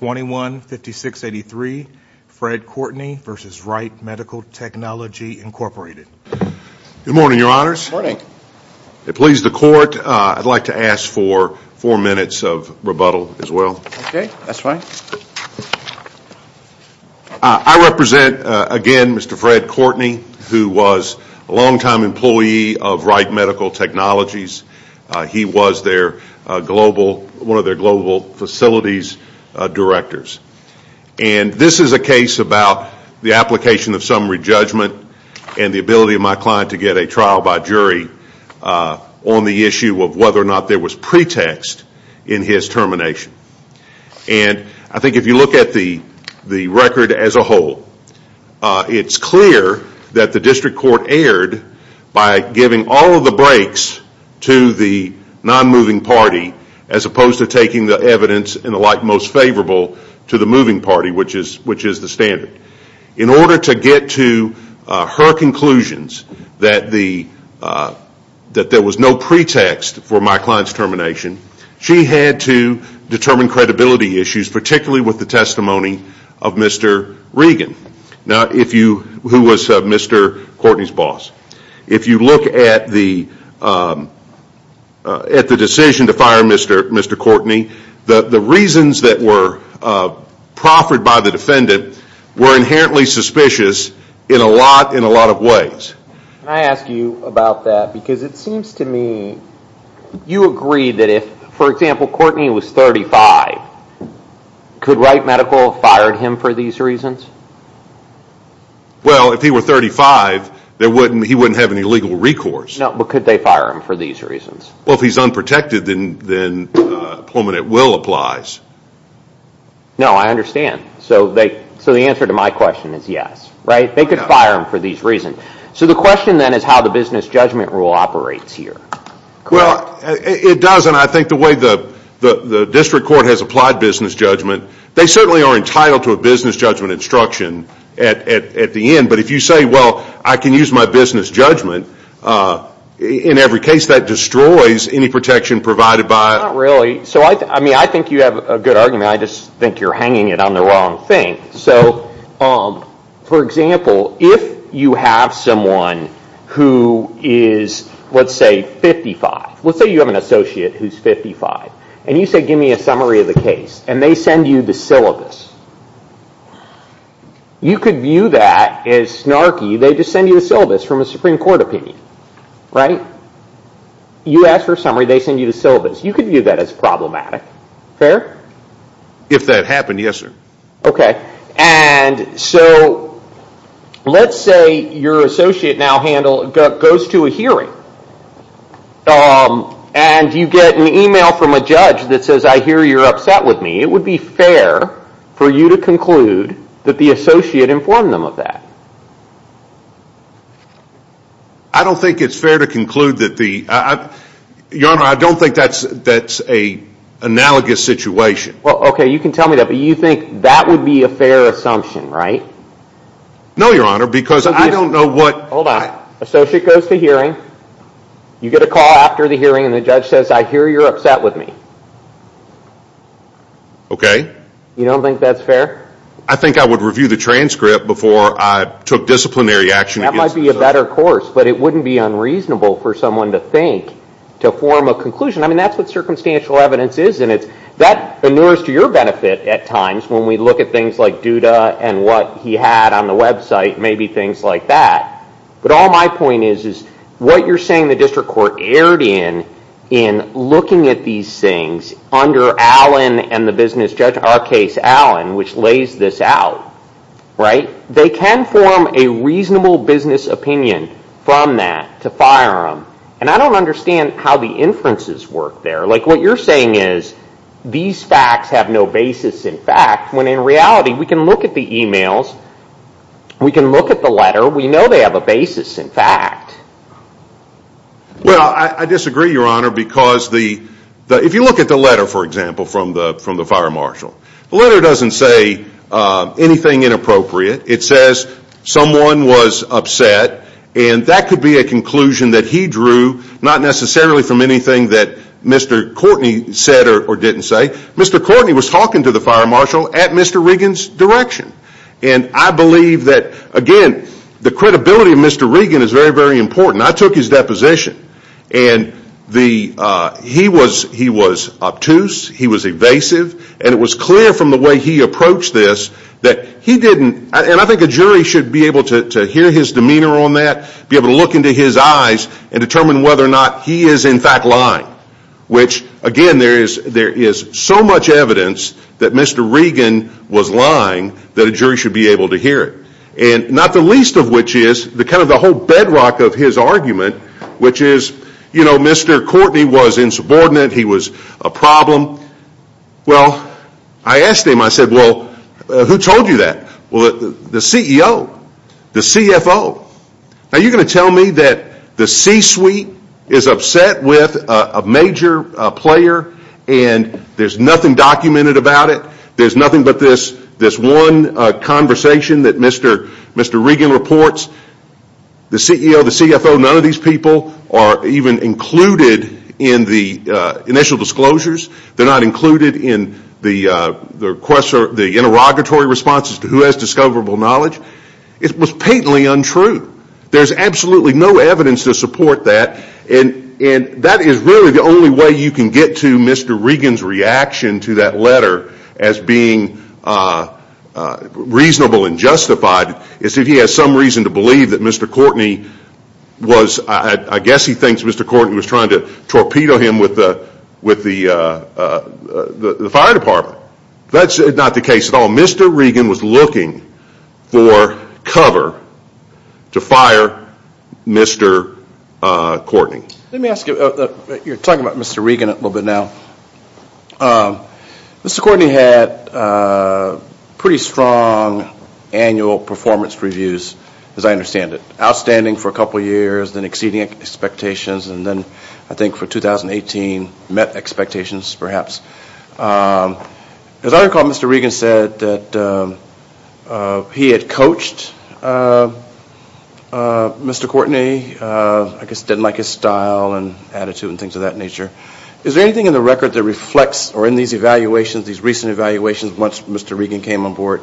21-5683, Fred Courtney v. Wright Medical Technology, Inc. Good morning, your honors. Good morning. It pleases the court, I'd like to ask for four minutes of rebuttal as well. Okay, that's fine. I represent, again, Mr. Fred Courtney, who was a long-time employee of Wright Medical Technologies. He was one of their global facilities directors. And this is a case about the application of summary judgment and the ability of my client to get a trial by jury on the issue of whether or not there was pretext in his termination. And I think if you look at the record as a whole, it's clear that the district court erred by giving all of the breaks to the non-moving party as opposed to taking the evidence in the light most favorable to the moving party, which is the standard. In order to get to her conclusions that there was no pretext for my client's termination, she had to determine credibility issues, particularly with the testimony of Mr. Regan, who was Mr. Courtney's boss. If you look at the decision to fire Mr. Courtney, the reasons that were proffered by the defendant were inherently suspicious in a lot of ways. Can I ask you about that? Because it seems to me you agree that if, for example, Courtney was 35, could Wright Medical have fired him for these reasons? Well, if he were 35, he wouldn't have any legal recourse. No, but could they fire him for these reasons? Well, if he's unprotected, then a pullman at will applies. No, I understand. So the answer to my question is yes, right? They could fire him for these reasons. So the question then is how the business judgment rule operates here. Well, it does, and I think the way the district court has applied business judgment, they certainly are entitled to a business judgment instruction at the end. But if you say, well, I can use my business judgment, in every case that destroys any protection provided by... Not really. I think you have a good argument. I just think you're hanging it on the wrong thing. So, for example, if you have someone who is, let's say, 55. Let's say you have an associate who's 55, and you say, give me a summary of the case, and they send you the syllabus. You could view that as snarky. They just send you the syllabus from a Supreme Court opinion, right? You ask for a summary, they send you the syllabus. You could view that as problematic. Fair? If that happened, yes, sir. Okay. And so let's say your associate now goes to a hearing, and you get an email from a judge that says, I hear you're upset with me. It would be fair for you to conclude that the associate informed them of that. I don't think it's fair to conclude that the... Your Honor, I don't think that's an analogous situation. Well, okay, you can tell me that, but you think that would be a fair assumption, right? No, Your Honor, because I don't know what... Hold on. Associate goes to hearing, you get a call after the hearing, and the judge says, I hear you're upset with me. You don't think that's fair? I think I would review the transcript before I took disciplinary action against the associate. That might be a better course, but it wouldn't be unreasonable for someone to think, to form a conclusion. I mean, that's what circumstantial evidence is, and that inures to your benefit at times when we look at things like Duda and what he had on the website, maybe things like that. But all my point is, is what you're saying the district court erred in, in looking at these things under Allen and the business judge Arcase Allen, which lays this out, right? They can form a reasonable business opinion from that to fire him. And I don't understand how the inferences work there. Like, what you're saying is, these facts have no basis in fact, when in reality, we can look at the emails, we can look at the letter, we know they have a basis in fact. Well, I disagree, Your Honor, because if you look at the letter, for example, from the fire marshal, the letter doesn't say anything inappropriate. It says someone was upset, and that could be a conclusion that he drew, not necessarily from anything that Mr. Courtney said or didn't say. Mr. Courtney was talking to the fire marshal at Mr. Regan's direction. And I believe that, again, the credibility of Mr. Regan is very, very important. I took his deposition, and he was obtuse, he was evasive, and it was clear from the way he approached this that he didn't, and I think a jury should be able to hear his demeanor on that, be able to look into his eyes and determine whether or not he is in fact lying. Which, again, there is so much evidence that Mr. Regan was lying that a jury should be able to hear it. And not the least of which is kind of the whole bedrock of his argument, which is, you know, Mr. Courtney was insubordinate, he was a problem. Well, I asked him, I said, well, who told you that? Well, the CEO, the CFO. Now, you're going to tell me that the C-suite is upset with a major player, and there's nothing documented about it, there's nothing but this one conversation that Mr. Regan reports, the CEO, the CFO, none of these people are even included in the initial disclosures, they're not included in the interrogatory responses to who has discoverable knowledge. It was patently untrue. There's absolutely no evidence to support that, and that is really the only way you can get to Mr. Regan's reaction to that letter as being reasonable and justified, is if he has some reason to believe that Mr. Courtney was, I guess he thinks Mr. Courtney was trying to torpedo him with the fire department. That's not the case at all. Mr. Regan was looking for cover to fire Mr. Courtney. Let me ask you, you're talking about Mr. Regan a little bit now. Mr. Courtney had pretty strong annual performance reviews, as I understand it, outstanding for a couple of years, then exceeding expectations, and then I think for 2018 met expectations perhaps. As I recall, Mr. Regan said that he had coached Mr. Courtney, I guess didn't like his style and attitude and things of that nature. Is there anything in the record that reflects, or in these evaluations, these recent evaluations once Mr. Regan came on board,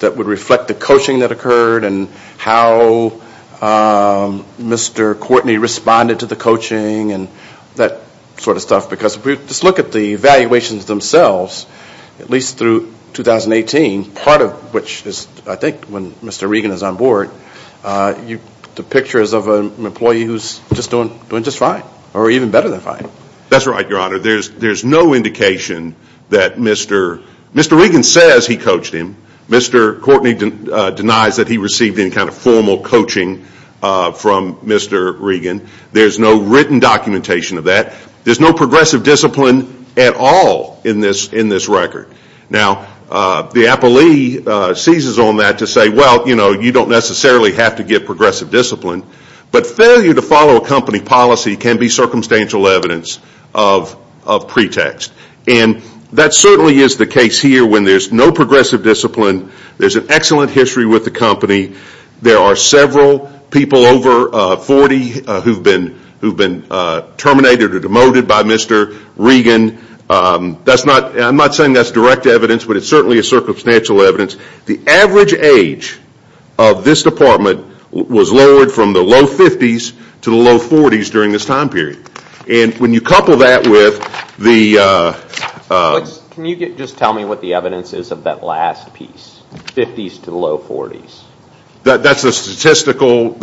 that would reflect the coaching that occurred and how Mr. Courtney responded to the coaching and that sort of stuff? Because if we just look at the evaluations themselves, at least through 2018, part of which is I think when Mr. Regan is on board, the picture is of an employee who's doing just fine, or even better than fine. That's right, Your Honor. There's no indication that Mr. Regan says he coached him. Mr. Courtney denies that he received any kind of formal coaching from Mr. Regan. There's no written documentation of that. There's no progressive discipline at all in this record. Now, the appellee seizes on that to say, well, you don't necessarily have to get progressive discipline, but failure to follow a company policy can be circumstantial evidence of pretext. And that certainly is the case here when there's no progressive discipline. There's an excellent history with the company. There are several people over 40 who've been terminated or demoted by Mr. Regan. I'm not saying that's direct evidence, but it's certainly a circumstantial evidence. The average age of this department was lowered from the low 50s to the low 40s during this time period. And when you couple that with the- Can you just tell me what the evidence is of that last piece, 50s to low 40s? That's a statistical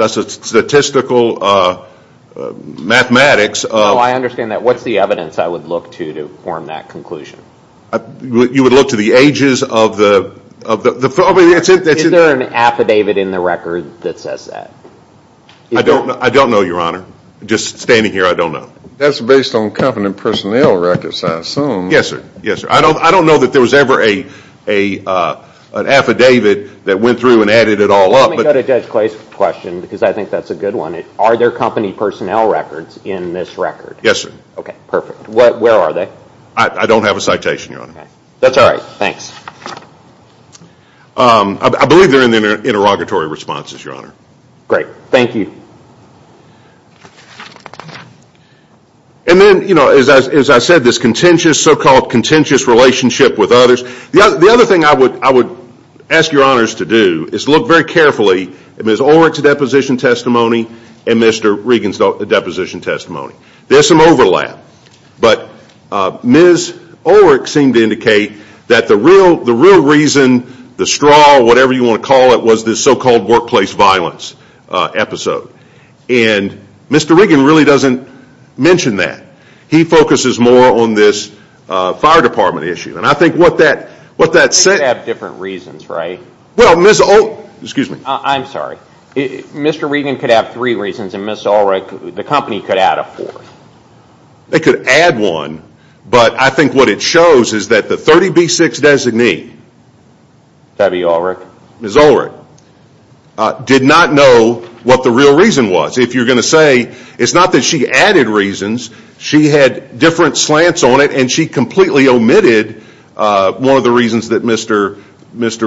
mathematics- No, I understand that. What's the evidence I would look to to form that conclusion? You would look to the ages of the- Is there an affidavit in the record that says that? I don't know, Your Honor. Just standing here, I don't know. That's based on company personnel records, I assume. Yes, sir. I don't know that there was ever an affidavit that went through and added it all up. Let me go to Judge Clay's question because I think that's a good one. Are there company personnel records in this record? Yes, sir. Okay, perfect. Where are they? I don't have a citation, Your Honor. That's all right, thanks. I believe they're in the interrogatory responses, Your Honor. Great, thank you. And then, as I said, this contentious, so-called contentious relationship with others. The other thing I would ask Your Honors to do is look very carefully at Ms. Ulrich's deposition testimony and Mr. Regan's deposition testimony. There's some overlap, but Ms. Ulrich seemed to indicate that the real reason, the straw, whatever you want to call it, was this so-called workplace violence episode. And Mr. Regan really doesn't mention that. He focuses more on this fire department issue. And I think what that said Could have different reasons, right? Well, Ms. Ulrich Excuse me. I'm sorry. Mr. Regan could have three reasons and Ms. Ulrich, the company, could add a fourth. They could add one, but I think what it shows is that the 30B6 designee Debbie Ulrich Ms. Ulrich did not know what the real reason was. If you're going to say, it's not that she added reasons, she had different slants on it and she completely omitted one of the reasons that Mr.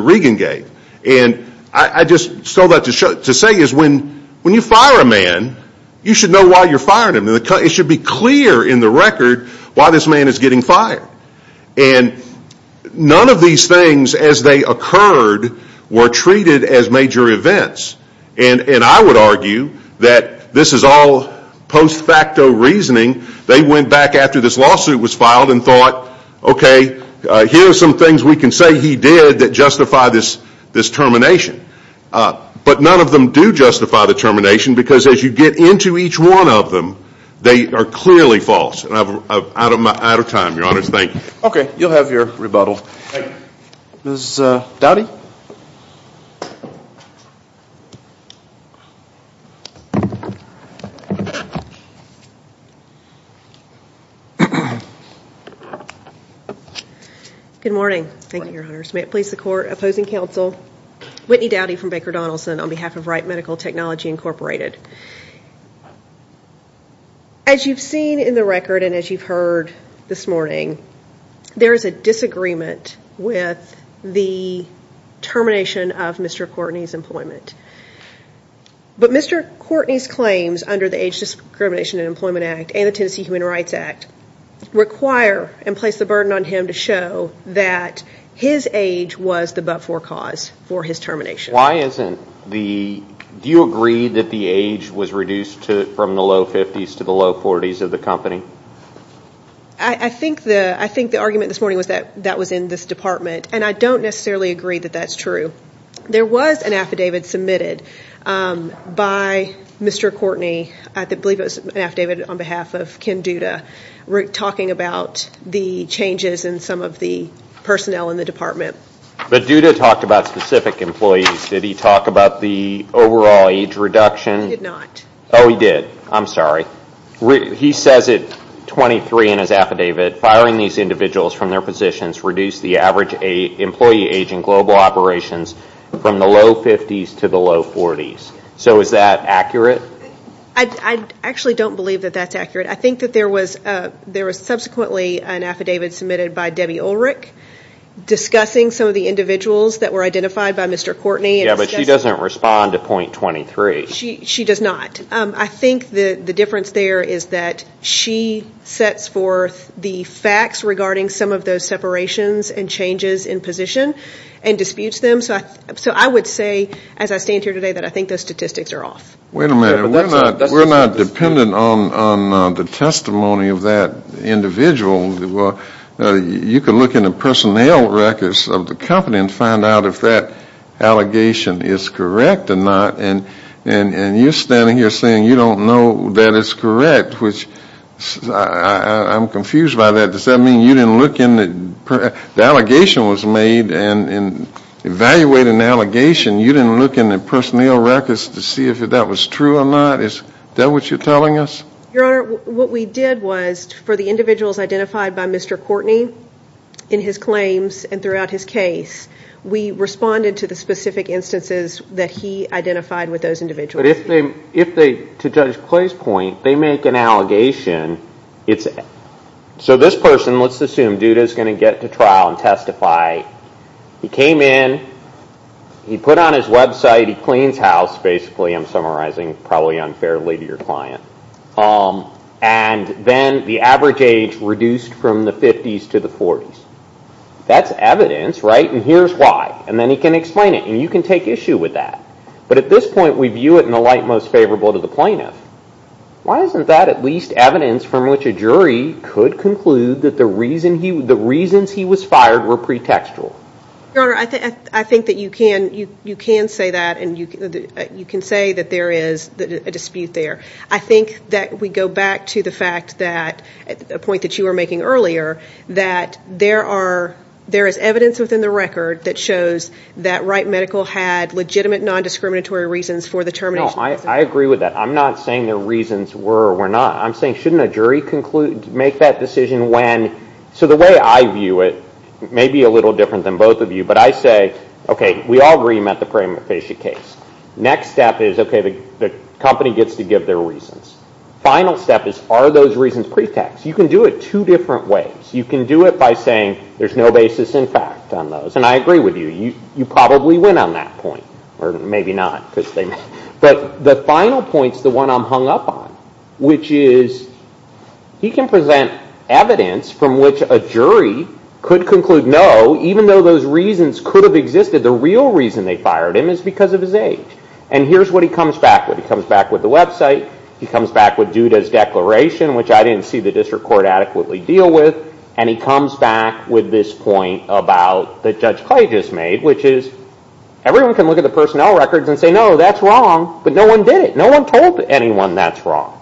Regan gave. And I just saw that to say is when you fire a man, you should know why you're firing him. It should be clear in the record why this man is getting fired. And none of these things, as they occurred, were treated as major events. And I would argue that this is all post facto reasoning. They went back after this lawsuit was filed and thought, okay, here are some things we can say he did that justify this termination. But none of them do justify the termination because as you get into each one of them, they are clearly false. And I'm out of time, Your Honors. Thank you. Okay. You'll have your rebuttal. Thank you. Ms. Doughty Good morning. Thank you, Your Honors. May it please the Court, opposing counsel, Whitney Doughty from Baker Donaldson on behalf of Wright Medical Technology Incorporated. As you've seen in the record and as you've heard this morning, there is a disagreement with the termination of Mr. Courtney's employment. But Mr. Courtney's claims under the Age Discrimination and Employment Act and the Tennessee Human Rights Act require and place the burden on him to show that his age was the but-for cause for his termination. Do you agree that the age was reduced from the low 50s to the low 40s of the company? I think the argument this morning was that that was in this department, and I don't necessarily agree that that's true. There was an affidavit submitted by Mr. Courtney. I believe it was an affidavit on behalf of Ken Duda talking about the changes in some of the personnel in the department. But Duda talked about specific employees. Did he talk about the overall age reduction? He did not. Oh, he did. I'm sorry. He says at 23 in his affidavit, firing these individuals from their positions reduced the average employee age in global operations from the low 50s to the low 40s. So is that accurate? I actually don't believe that that's accurate. I think that there was subsequently an affidavit submitted by Debbie Ulrich discussing some of the individuals that were identified by Mr. Courtney. Yeah, but she doesn't respond to point 23. She does not. I think the difference there is that she sets forth the facts regarding some of those separations and changes in position and disputes them. So I would say, as I stand here today, that I think those statistics are off. Wait a minute. We're not dependent on the testimony of that individual. You could look in the personnel records of the company and find out if that allegation is correct or not. And you're standing here saying you don't know that it's correct, which I'm confused by that. Does that mean you didn't look in? The allegation was made, and evaluating the allegation, you didn't look in the personnel records to see if that was true or not? Is that what you're telling us? Your Honor, what we did was for the individuals identified by Mr. Courtney in his claims and throughout his case, we responded to the specific instances that he identified with those individuals. But if they, to Judge Clay's point, they make an allegation, so this person, let's assume Duda's going to get to trial and testify, he came in, he put on his website, he cleans house, basically I'm summarizing probably unfairly to your client, and then the average age reduced from the 50s to the 40s. That's evidence, right? And here's why. And then he can explain it, and you can take issue with that. But at this point, we view it in the light most favorable to the plaintiff. Why isn't that at least evidence from which a jury could conclude that the reasons he was fired were pretextual? Your Honor, I think that you can say that, and you can say that there is a dispute there. I think that we go back to the fact that, the point that you were making earlier, that there is evidence within the record that shows that Wright Medical had legitimate non-discriminatory reasons for the termination. I agree with that. I'm not saying their reasons were or were not. I'm saying, shouldn't a jury make that decision when? So the way I view it may be a little different than both of you, but I say, okay, we all agree you met the preeminent facial case. Next step is, okay, the company gets to give their reasons. Final step is, are those reasons pretext? You can do it two different ways. You can do it by saying there's no basis in fact on those. And I agree with you. You probably went on that point, or maybe not. But the final point is the one I'm hung up on, which is he can present evidence from which a jury could conclude no, even though those reasons could have existed. The real reason they fired him is because of his age. And here's what he comes back with. He comes back with the website. He comes back with Duda's declaration, which I didn't see the district court adequately deal with. And he comes back with this point that Judge Clay just made, which is everyone can look at the personnel records and say, no, that's wrong, but no one did it. No one told anyone that's wrong.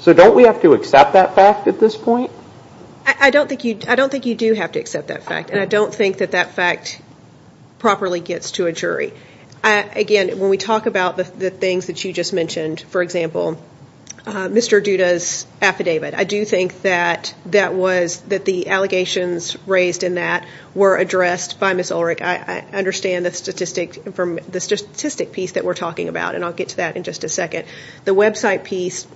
So don't we have to accept that fact at this point? I don't think you do have to accept that fact, and I don't think that that fact properly gets to a jury. Again, when we talk about the things that you just mentioned, for example, Mr. Duda's affidavit, I do think that the allegations raised in that were addressed by Ms. Ulrich. I understand the statistic piece that we're talking about, and I'll get to that in just a second. The website piece,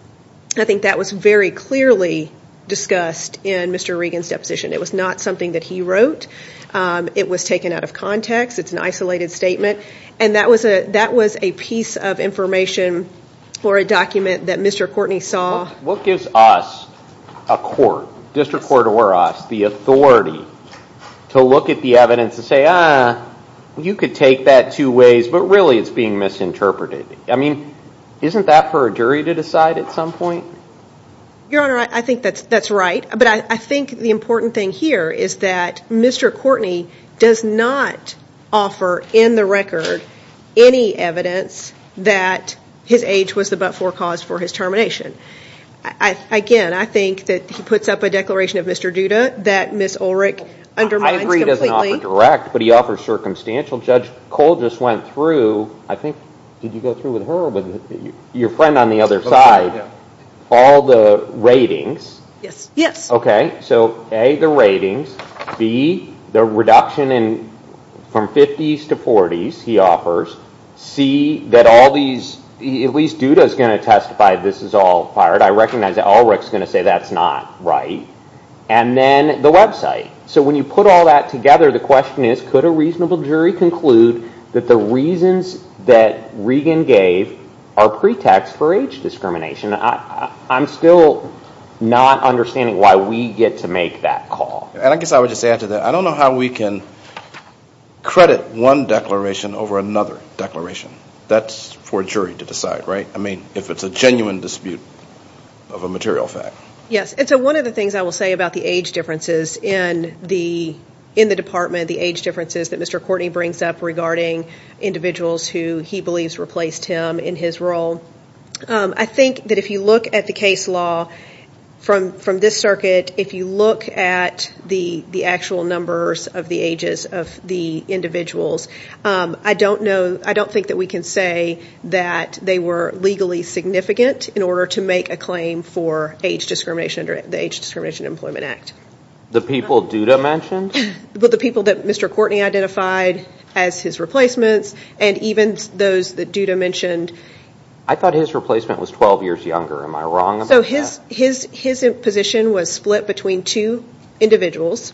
I think that was very clearly discussed in Mr. Regan's deposition. It was not something that he wrote. It was taken out of context. It's an isolated statement. And that was a piece of information for a document that Mr. Courtney saw. What gives us, a court, district court or us, the authority to look at the evidence and say, ah, you could take that two ways, but really it's being misinterpreted. I mean, isn't that for a jury to decide at some point? Your Honor, I think that's right, but I think the important thing here is that Mr. Courtney does not offer in the record any evidence that his age was the but-for cause for his termination. Again, I think that he puts up a declaration of Mr. Duda that Ms. Ulrich undermines completely. I agree he doesn't offer direct, but he offers circumstantial. Judge Cole just went through, I think, did you go through with her or with your friend on the other side, all the ratings. Yes. Okay, so A, the ratings. B, the reduction from 50s to 40s, he offers. C, that all these, at least Duda's going to testify this is all fired. I recognize that Ulrich's going to say that's not right. And then the website. So when you put all that together, the question is, could a reasonable jury conclude that the reasons that Regan gave are pretext for age discrimination? I'm still not understanding why we get to make that call. And I guess I would just add to that, I don't know how we can credit one declaration over another declaration. That's for a jury to decide, right? I mean, if it's a genuine dispute of a material fact. Yes, and so one of the things I will say about the age differences in the department, the age differences that Mr. Courtney brings up regarding individuals who he believes replaced him in his role, I think that if you look at the case law from this circuit, if you look at the actual numbers of the ages of the individuals, I don't know, I don't think that we can say that they were legally significant in order to make a claim for age discrimination under the Age Discrimination Employment Act. The people Duda mentioned? The people that Mr. Courtney identified as his replacements and even those that Duda mentioned. I thought his replacement was 12 years younger. Am I wrong about that? So his position was split between two individuals,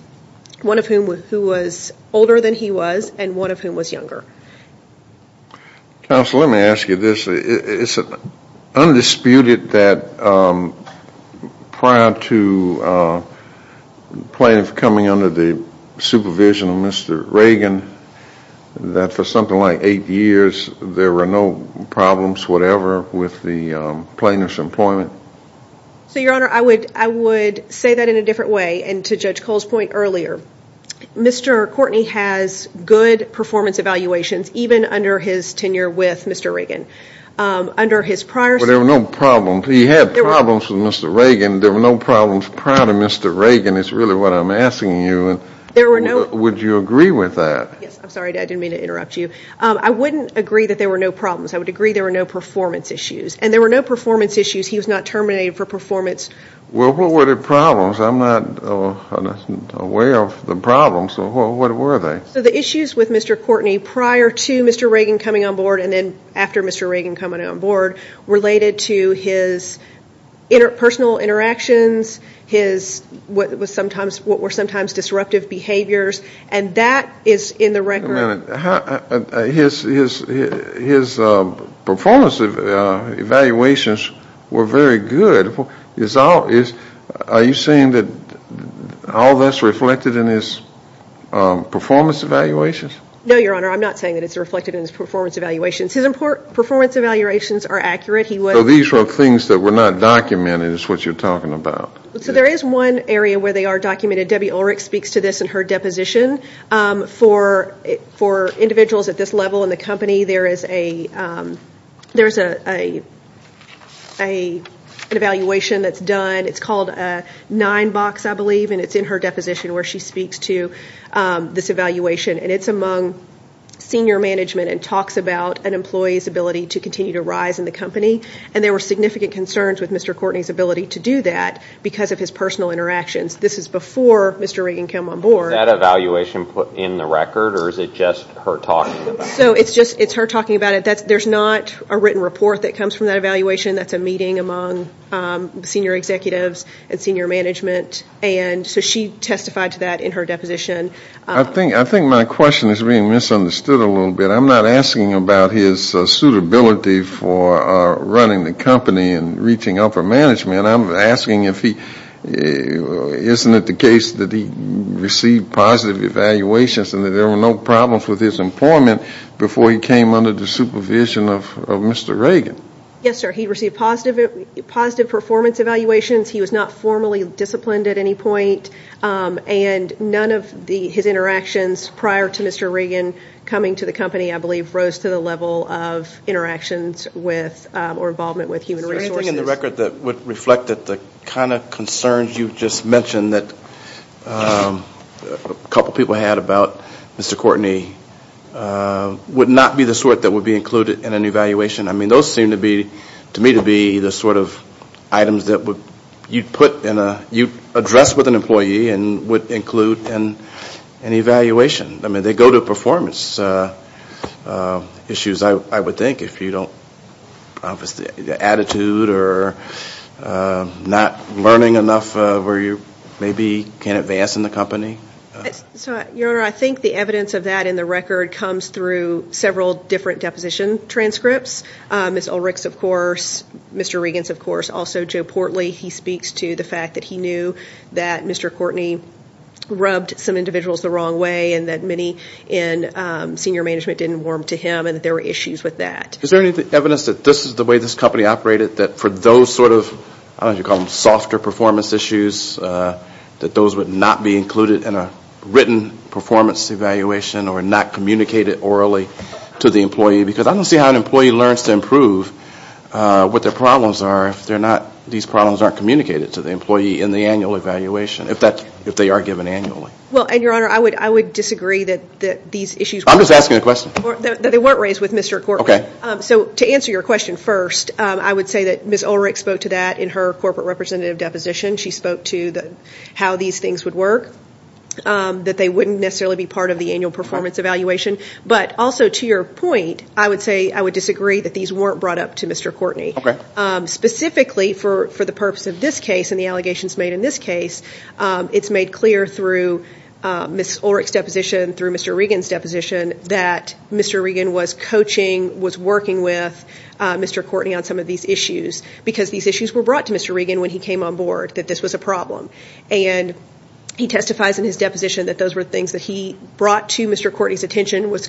one of whom was older than he was and one of whom was younger. Counsel, let me ask you this. It's undisputed that prior to plaintiff coming under the supervision of Mr. Reagan, that for something like eight years there were no problems, whatever, with the plaintiff's employment? So, Your Honor, I would say that in a different way and to Judge Cole's point earlier. Mr. Courtney has good performance evaluations even under his tenure with Mr. Reagan. Under his prior... But there were no problems. He had problems with Mr. Reagan. There were no problems prior to Mr. Reagan is really what I'm asking you. Would you agree with that? Yes. I'm sorry. I didn't mean to interrupt you. I wouldn't agree that there were no problems. I would agree there were no performance issues. And there were no performance issues. He was not terminated for performance. Well, what were the problems? I'm not aware of the problems. So what were they? So the issues with Mr. Courtney prior to Mr. Reagan coming on board and then after Mr. Reagan coming on board related to his personal interactions, his what were sometimes disruptive behaviors, and that is in the record. Wait a minute. His performance evaluations were very good. Are you saying that all that's reflected in his performance evaluations? No, Your Honor. I'm not saying that it's reflected in his performance evaluations. His performance evaluations are accurate. So these are things that were not documented is what you're talking about. So there is one area where they are documented. Debbie Ulrich speaks to this in her deposition. For individuals at this level in the company, there is an evaluation that's done. It's called a nine box, I believe, and it's in her deposition where she speaks to this evaluation. And it's among senior management and talks about an employee's ability to continue to rise in the company. And there were significant concerns with Mr. Courtney's ability to do that because of his personal interactions. This is before Mr. Reagan came on board. Was that evaluation put in the record or is it just her talking about it? So it's just her talking about it. There's not a written report that comes from that evaluation. That's a meeting among senior executives and senior management. And so she testified to that in her deposition. I think my question is being misunderstood a little bit. I'm not asking about his suitability for running the company and reaching upper management. I'm asking if he, isn't it the case that he received positive evaluations and that there were no problems with his employment before he came under the supervision of Mr. Reagan? Yes, sir. He received positive performance evaluations. He was not formally disciplined at any point. And none of his interactions prior to Mr. Reagan coming to the company, I believe, rose to the level of interactions with or involvement with human resources. Is there anything in the record that would reflect the kind of concerns you just mentioned that a couple people had about Mr. Courtney would not be the sort that would be included in an evaluation? I mean, those seem to me to be the sort of items that you address with an employee and would include in an evaluation. I mean, they go to performance issues, I would think, if you don't have the attitude or not learning enough where you maybe can't advance in the company. Your Honor, I think the evidence of that in the record comes through several different deposition transcripts. Ms. Ulrich's, of course, Mr. Reagan's, of course, also Joe Portley. He speaks to the fact that he knew that Mr. Courtney rubbed some individuals the wrong way and that many in senior management didn't warm to him and that there were issues with that. Is there any evidence that this is the way this company operated, that for those sort of, I don't know if you'd call them softer performance issues, that those would not be included in a written performance evaluation or not communicated orally to the employee? Because I don't see how an employee learns to improve what their problems are if they're not, these problems aren't communicated to the employee in the annual evaluation, if they are given annually. Well, and Your Honor, I would disagree that these issues weren't raised. I'm just asking a question. That they weren't raised with Mr. Courtney. Okay. So to answer your question first, I would say that Ms. Ulrich spoke to that in her corporate representative deposition. She spoke to how these things would work, that they wouldn't necessarily be part of the annual performance evaluation. But also to your point, I would say I would disagree that these weren't brought up to Mr. Courtney. Okay. Specifically for the purpose of this case and the allegations made in this case, it's made clear through Ms. Ulrich's deposition, through Mr. Reagan's deposition, that Mr. Reagan was coaching, was working with Mr. Courtney on some of these issues because these issues were brought to Mr. Reagan when he came on board, that this was a problem. And he testifies in his deposition that those were things that he brought to Mr. Courtney's attention, was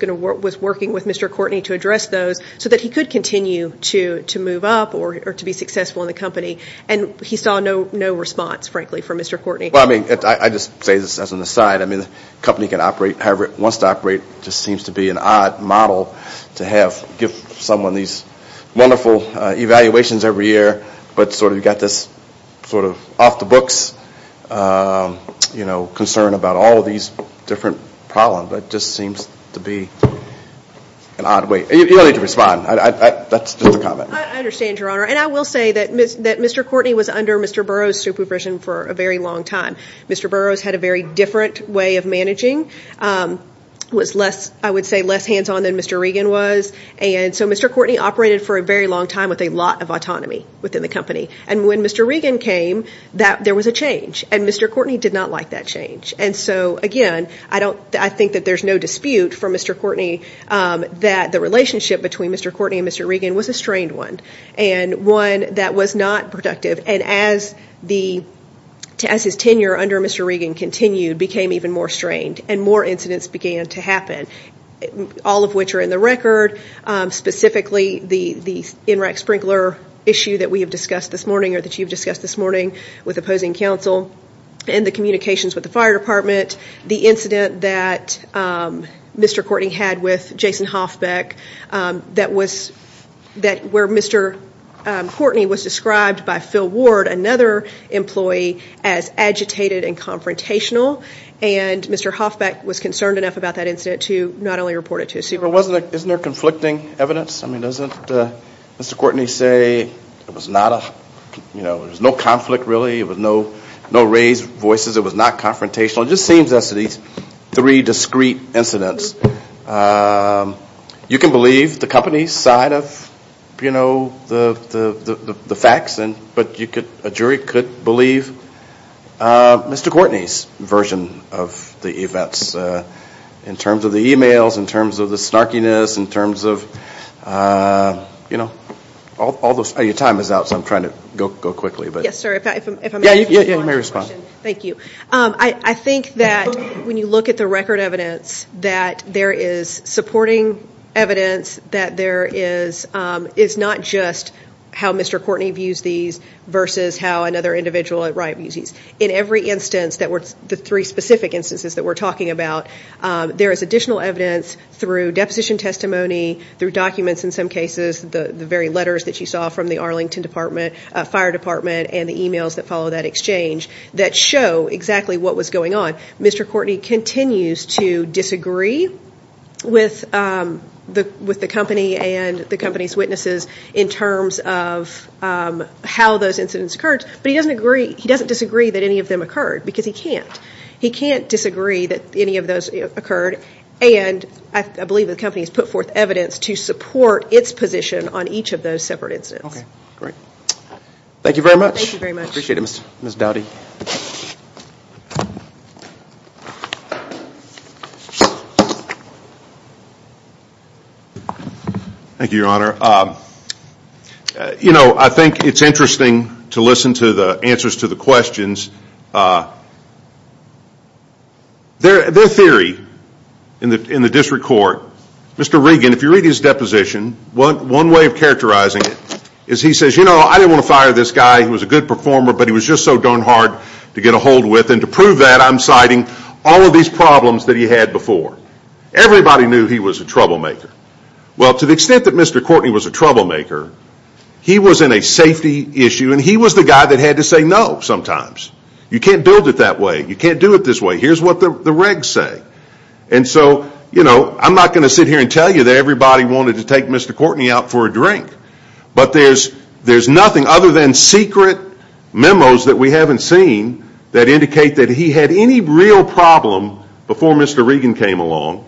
working with Mr. Courtney to address those so that he could continue to move up or to be successful in the company. And he saw no response, frankly, from Mr. Courtney. Well, I mean, I just say this as an aside. I mean, the company can operate however it wants to operate. It just seems to be an odd model to give someone these wonderful evaluations every year, but sort of you've got this sort of off-the-books, you know, concern about all of these different problems. It just seems to be an odd way. You don't need to respond. That's just a comment. I understand, Your Honor. And I will say that Mr. Courtney was under Mr. Burroughs' supervision for a very long time. Mr. Burroughs had a very different way of managing, was less, I would say, less hands-on than Mr. Reagan was. And so Mr. Courtney operated for a very long time with a lot of autonomy within the company. And when Mr. Reagan came, there was a change, and Mr. Courtney did not like that change. And so, again, I think that there's no dispute for Mr. Courtney that the relationship between Mr. Courtney and Mr. Reagan was a strained one and one that was not productive. And as his tenure under Mr. Reagan continued, it became even more strained, and more incidents began to happen, all of which are in the record, specifically the NRAC sprinkler issue that we have discussed this morning or that you've discussed this morning with opposing counsel, and the communications with the fire department, the incident that Mr. Courtney had with Jason Hoffbeck where Mr. Courtney was described by Phil Ward, another employee, as agitated and confrontational. And Mr. Hoffbeck was concerned enough about that incident to not only report it to his supervisor. Isn't there conflicting evidence? I mean, doesn't Mr. Courtney say there was no conflict, really? It was no raised voices? It was not confrontational? It just seems as to these three discrete incidents. You can believe the company's side of, you know, the facts, but a jury could believe Mr. Courtney's version of the events in terms of the e-mails, in terms of the snarkiness, in terms of, you know, your time is out, so I'm trying to go quickly. Yes, sir. Yeah, you may respond. Thank you. I think that when you look at the record evidence, that there is supporting evidence, that there is not just how Mr. Courtney views these versus how another individual at right views these. In every instance, the three specific instances that we're talking about, there is additional evidence through deposition testimony, through documents in some cases, the very letters that you saw from the Arlington Fire Department and the e-mails that follow that exchange, that show exactly what was going on. Mr. Courtney continues to disagree with the company and the company's witnesses in terms of how those incidents occurred, but he doesn't disagree that any of them occurred because he can't. He can't disagree that any of those occurred, and I believe the company has put forth evidence to support its position on each of those separate incidents. Okay, great. Thank you very much. Thank you very much. Appreciate it, Mr. Doughty. Thank you, Your Honor. You know, I think it's interesting to listen to the answers to the questions. Their theory in the district court, Mr. Regan, if you read his deposition, one way of characterizing it is he says, you know, I didn't want to fire this guy. He was a good performer, but he was just so darn hard to get ahold with, and to prove that, I'm citing all of these problems that he had before. Everybody knew he was a troublemaker. Well, to the extent that Mr. Courtney was a troublemaker, he was in a safety issue, and he was the guy that had to say no sometimes. You can't build it that way. You can't do it this way. Here's what the regs say. And so, you know, I'm not going to sit here and tell you that everybody wanted to take Mr. Courtney out for a drink. But there's nothing other than secret memos that we haven't seen that indicate that he had any real problem before Mr. Regan came along.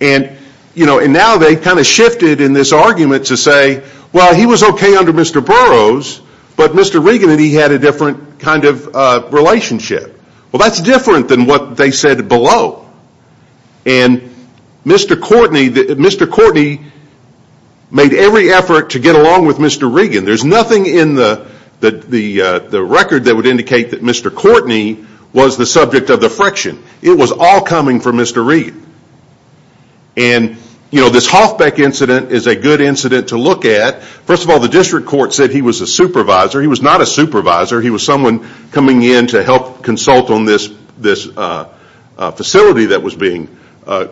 And, you know, now they've kind of shifted in this argument to say, well, he was okay under Mr. Burroughs, but Mr. Regan and he had a different kind of relationship. Well, that's different than what they said below. And Mr. Courtney made every effort to get along with Mr. Regan. There's nothing in the record that would indicate that Mr. Courtney was the subject of the friction. It was all coming from Mr. Regan. And, you know, this Hoffbeck incident is a good incident to look at. First of all, the district court said he was a supervisor. He was not a supervisor. He was someone coming in to help consult on this facility that was being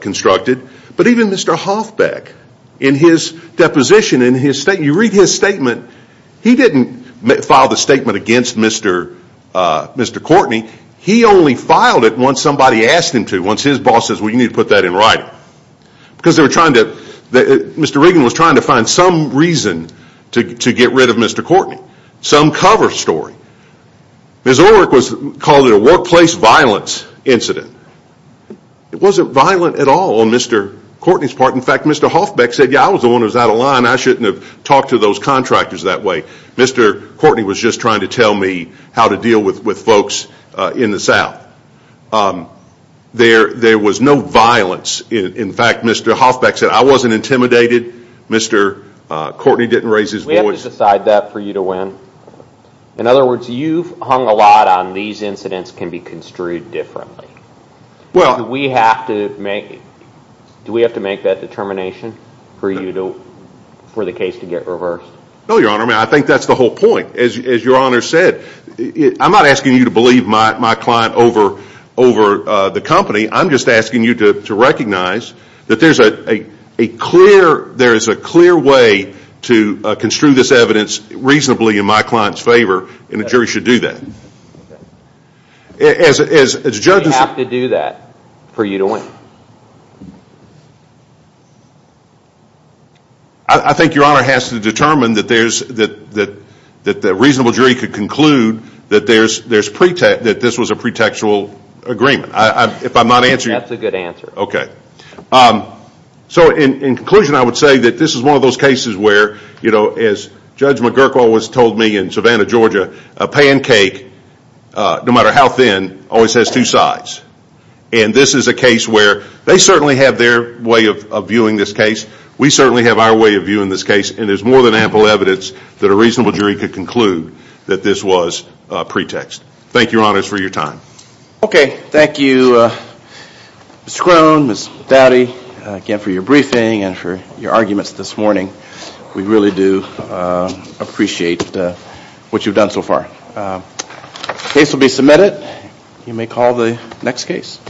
constructed. But even Mr. Hoffbeck, in his deposition, in his statement, you read his statement, he didn't file the statement against Mr. Courtney. He only filed it once somebody asked him to, once his boss says, well, you need to put that in writing. Because they were trying to, Mr. Regan was trying to find some reason to get rid of Mr. Courtney, some cover story. Ms. Orrick called it a workplace violence incident. It wasn't violent at all on Mr. Courtney's part. In fact, Mr. Hoffbeck said, yeah, I was the one who was out of line. I shouldn't have talked to those contractors that way. Mr. Courtney was just trying to tell me how to deal with folks in the south. There was no violence. In fact, Mr. Hoffbeck said, I wasn't intimidated. Mr. Courtney didn't raise his voice. Did you decide that for you to win? In other words, you've hung a lot on these incidents can be construed differently. Do we have to make that determination for the case to get reversed? No, Your Honor. I think that's the whole point. As Your Honor said, I'm not asking you to believe my client over the company. I'm just asking you to recognize that there is a clear way to construe this evidence reasonably in my client's favor, and a jury should do that. Do we have to do that for you to win? I think Your Honor has to determine that a reasonable jury could conclude that this was a pretextual agreement. That's a good answer. In conclusion, I would say that this is one of those cases where, as Judge McGurk always told me in Savannah, Georgia, a pancake, no matter how thin, always has two sides. This is a case where they certainly have their way of viewing this case. We certainly have our way of viewing this case, and there's more than ample evidence that a reasonable jury could conclude that this was a pretext. Thank you, Your Honor, for your time. Okay. Thank you, Ms. Crone, Ms. Dowdy, again for your briefing and for your arguments this morning. We really do appreciate what you've done so far. The case will be submitted. You may call the next case.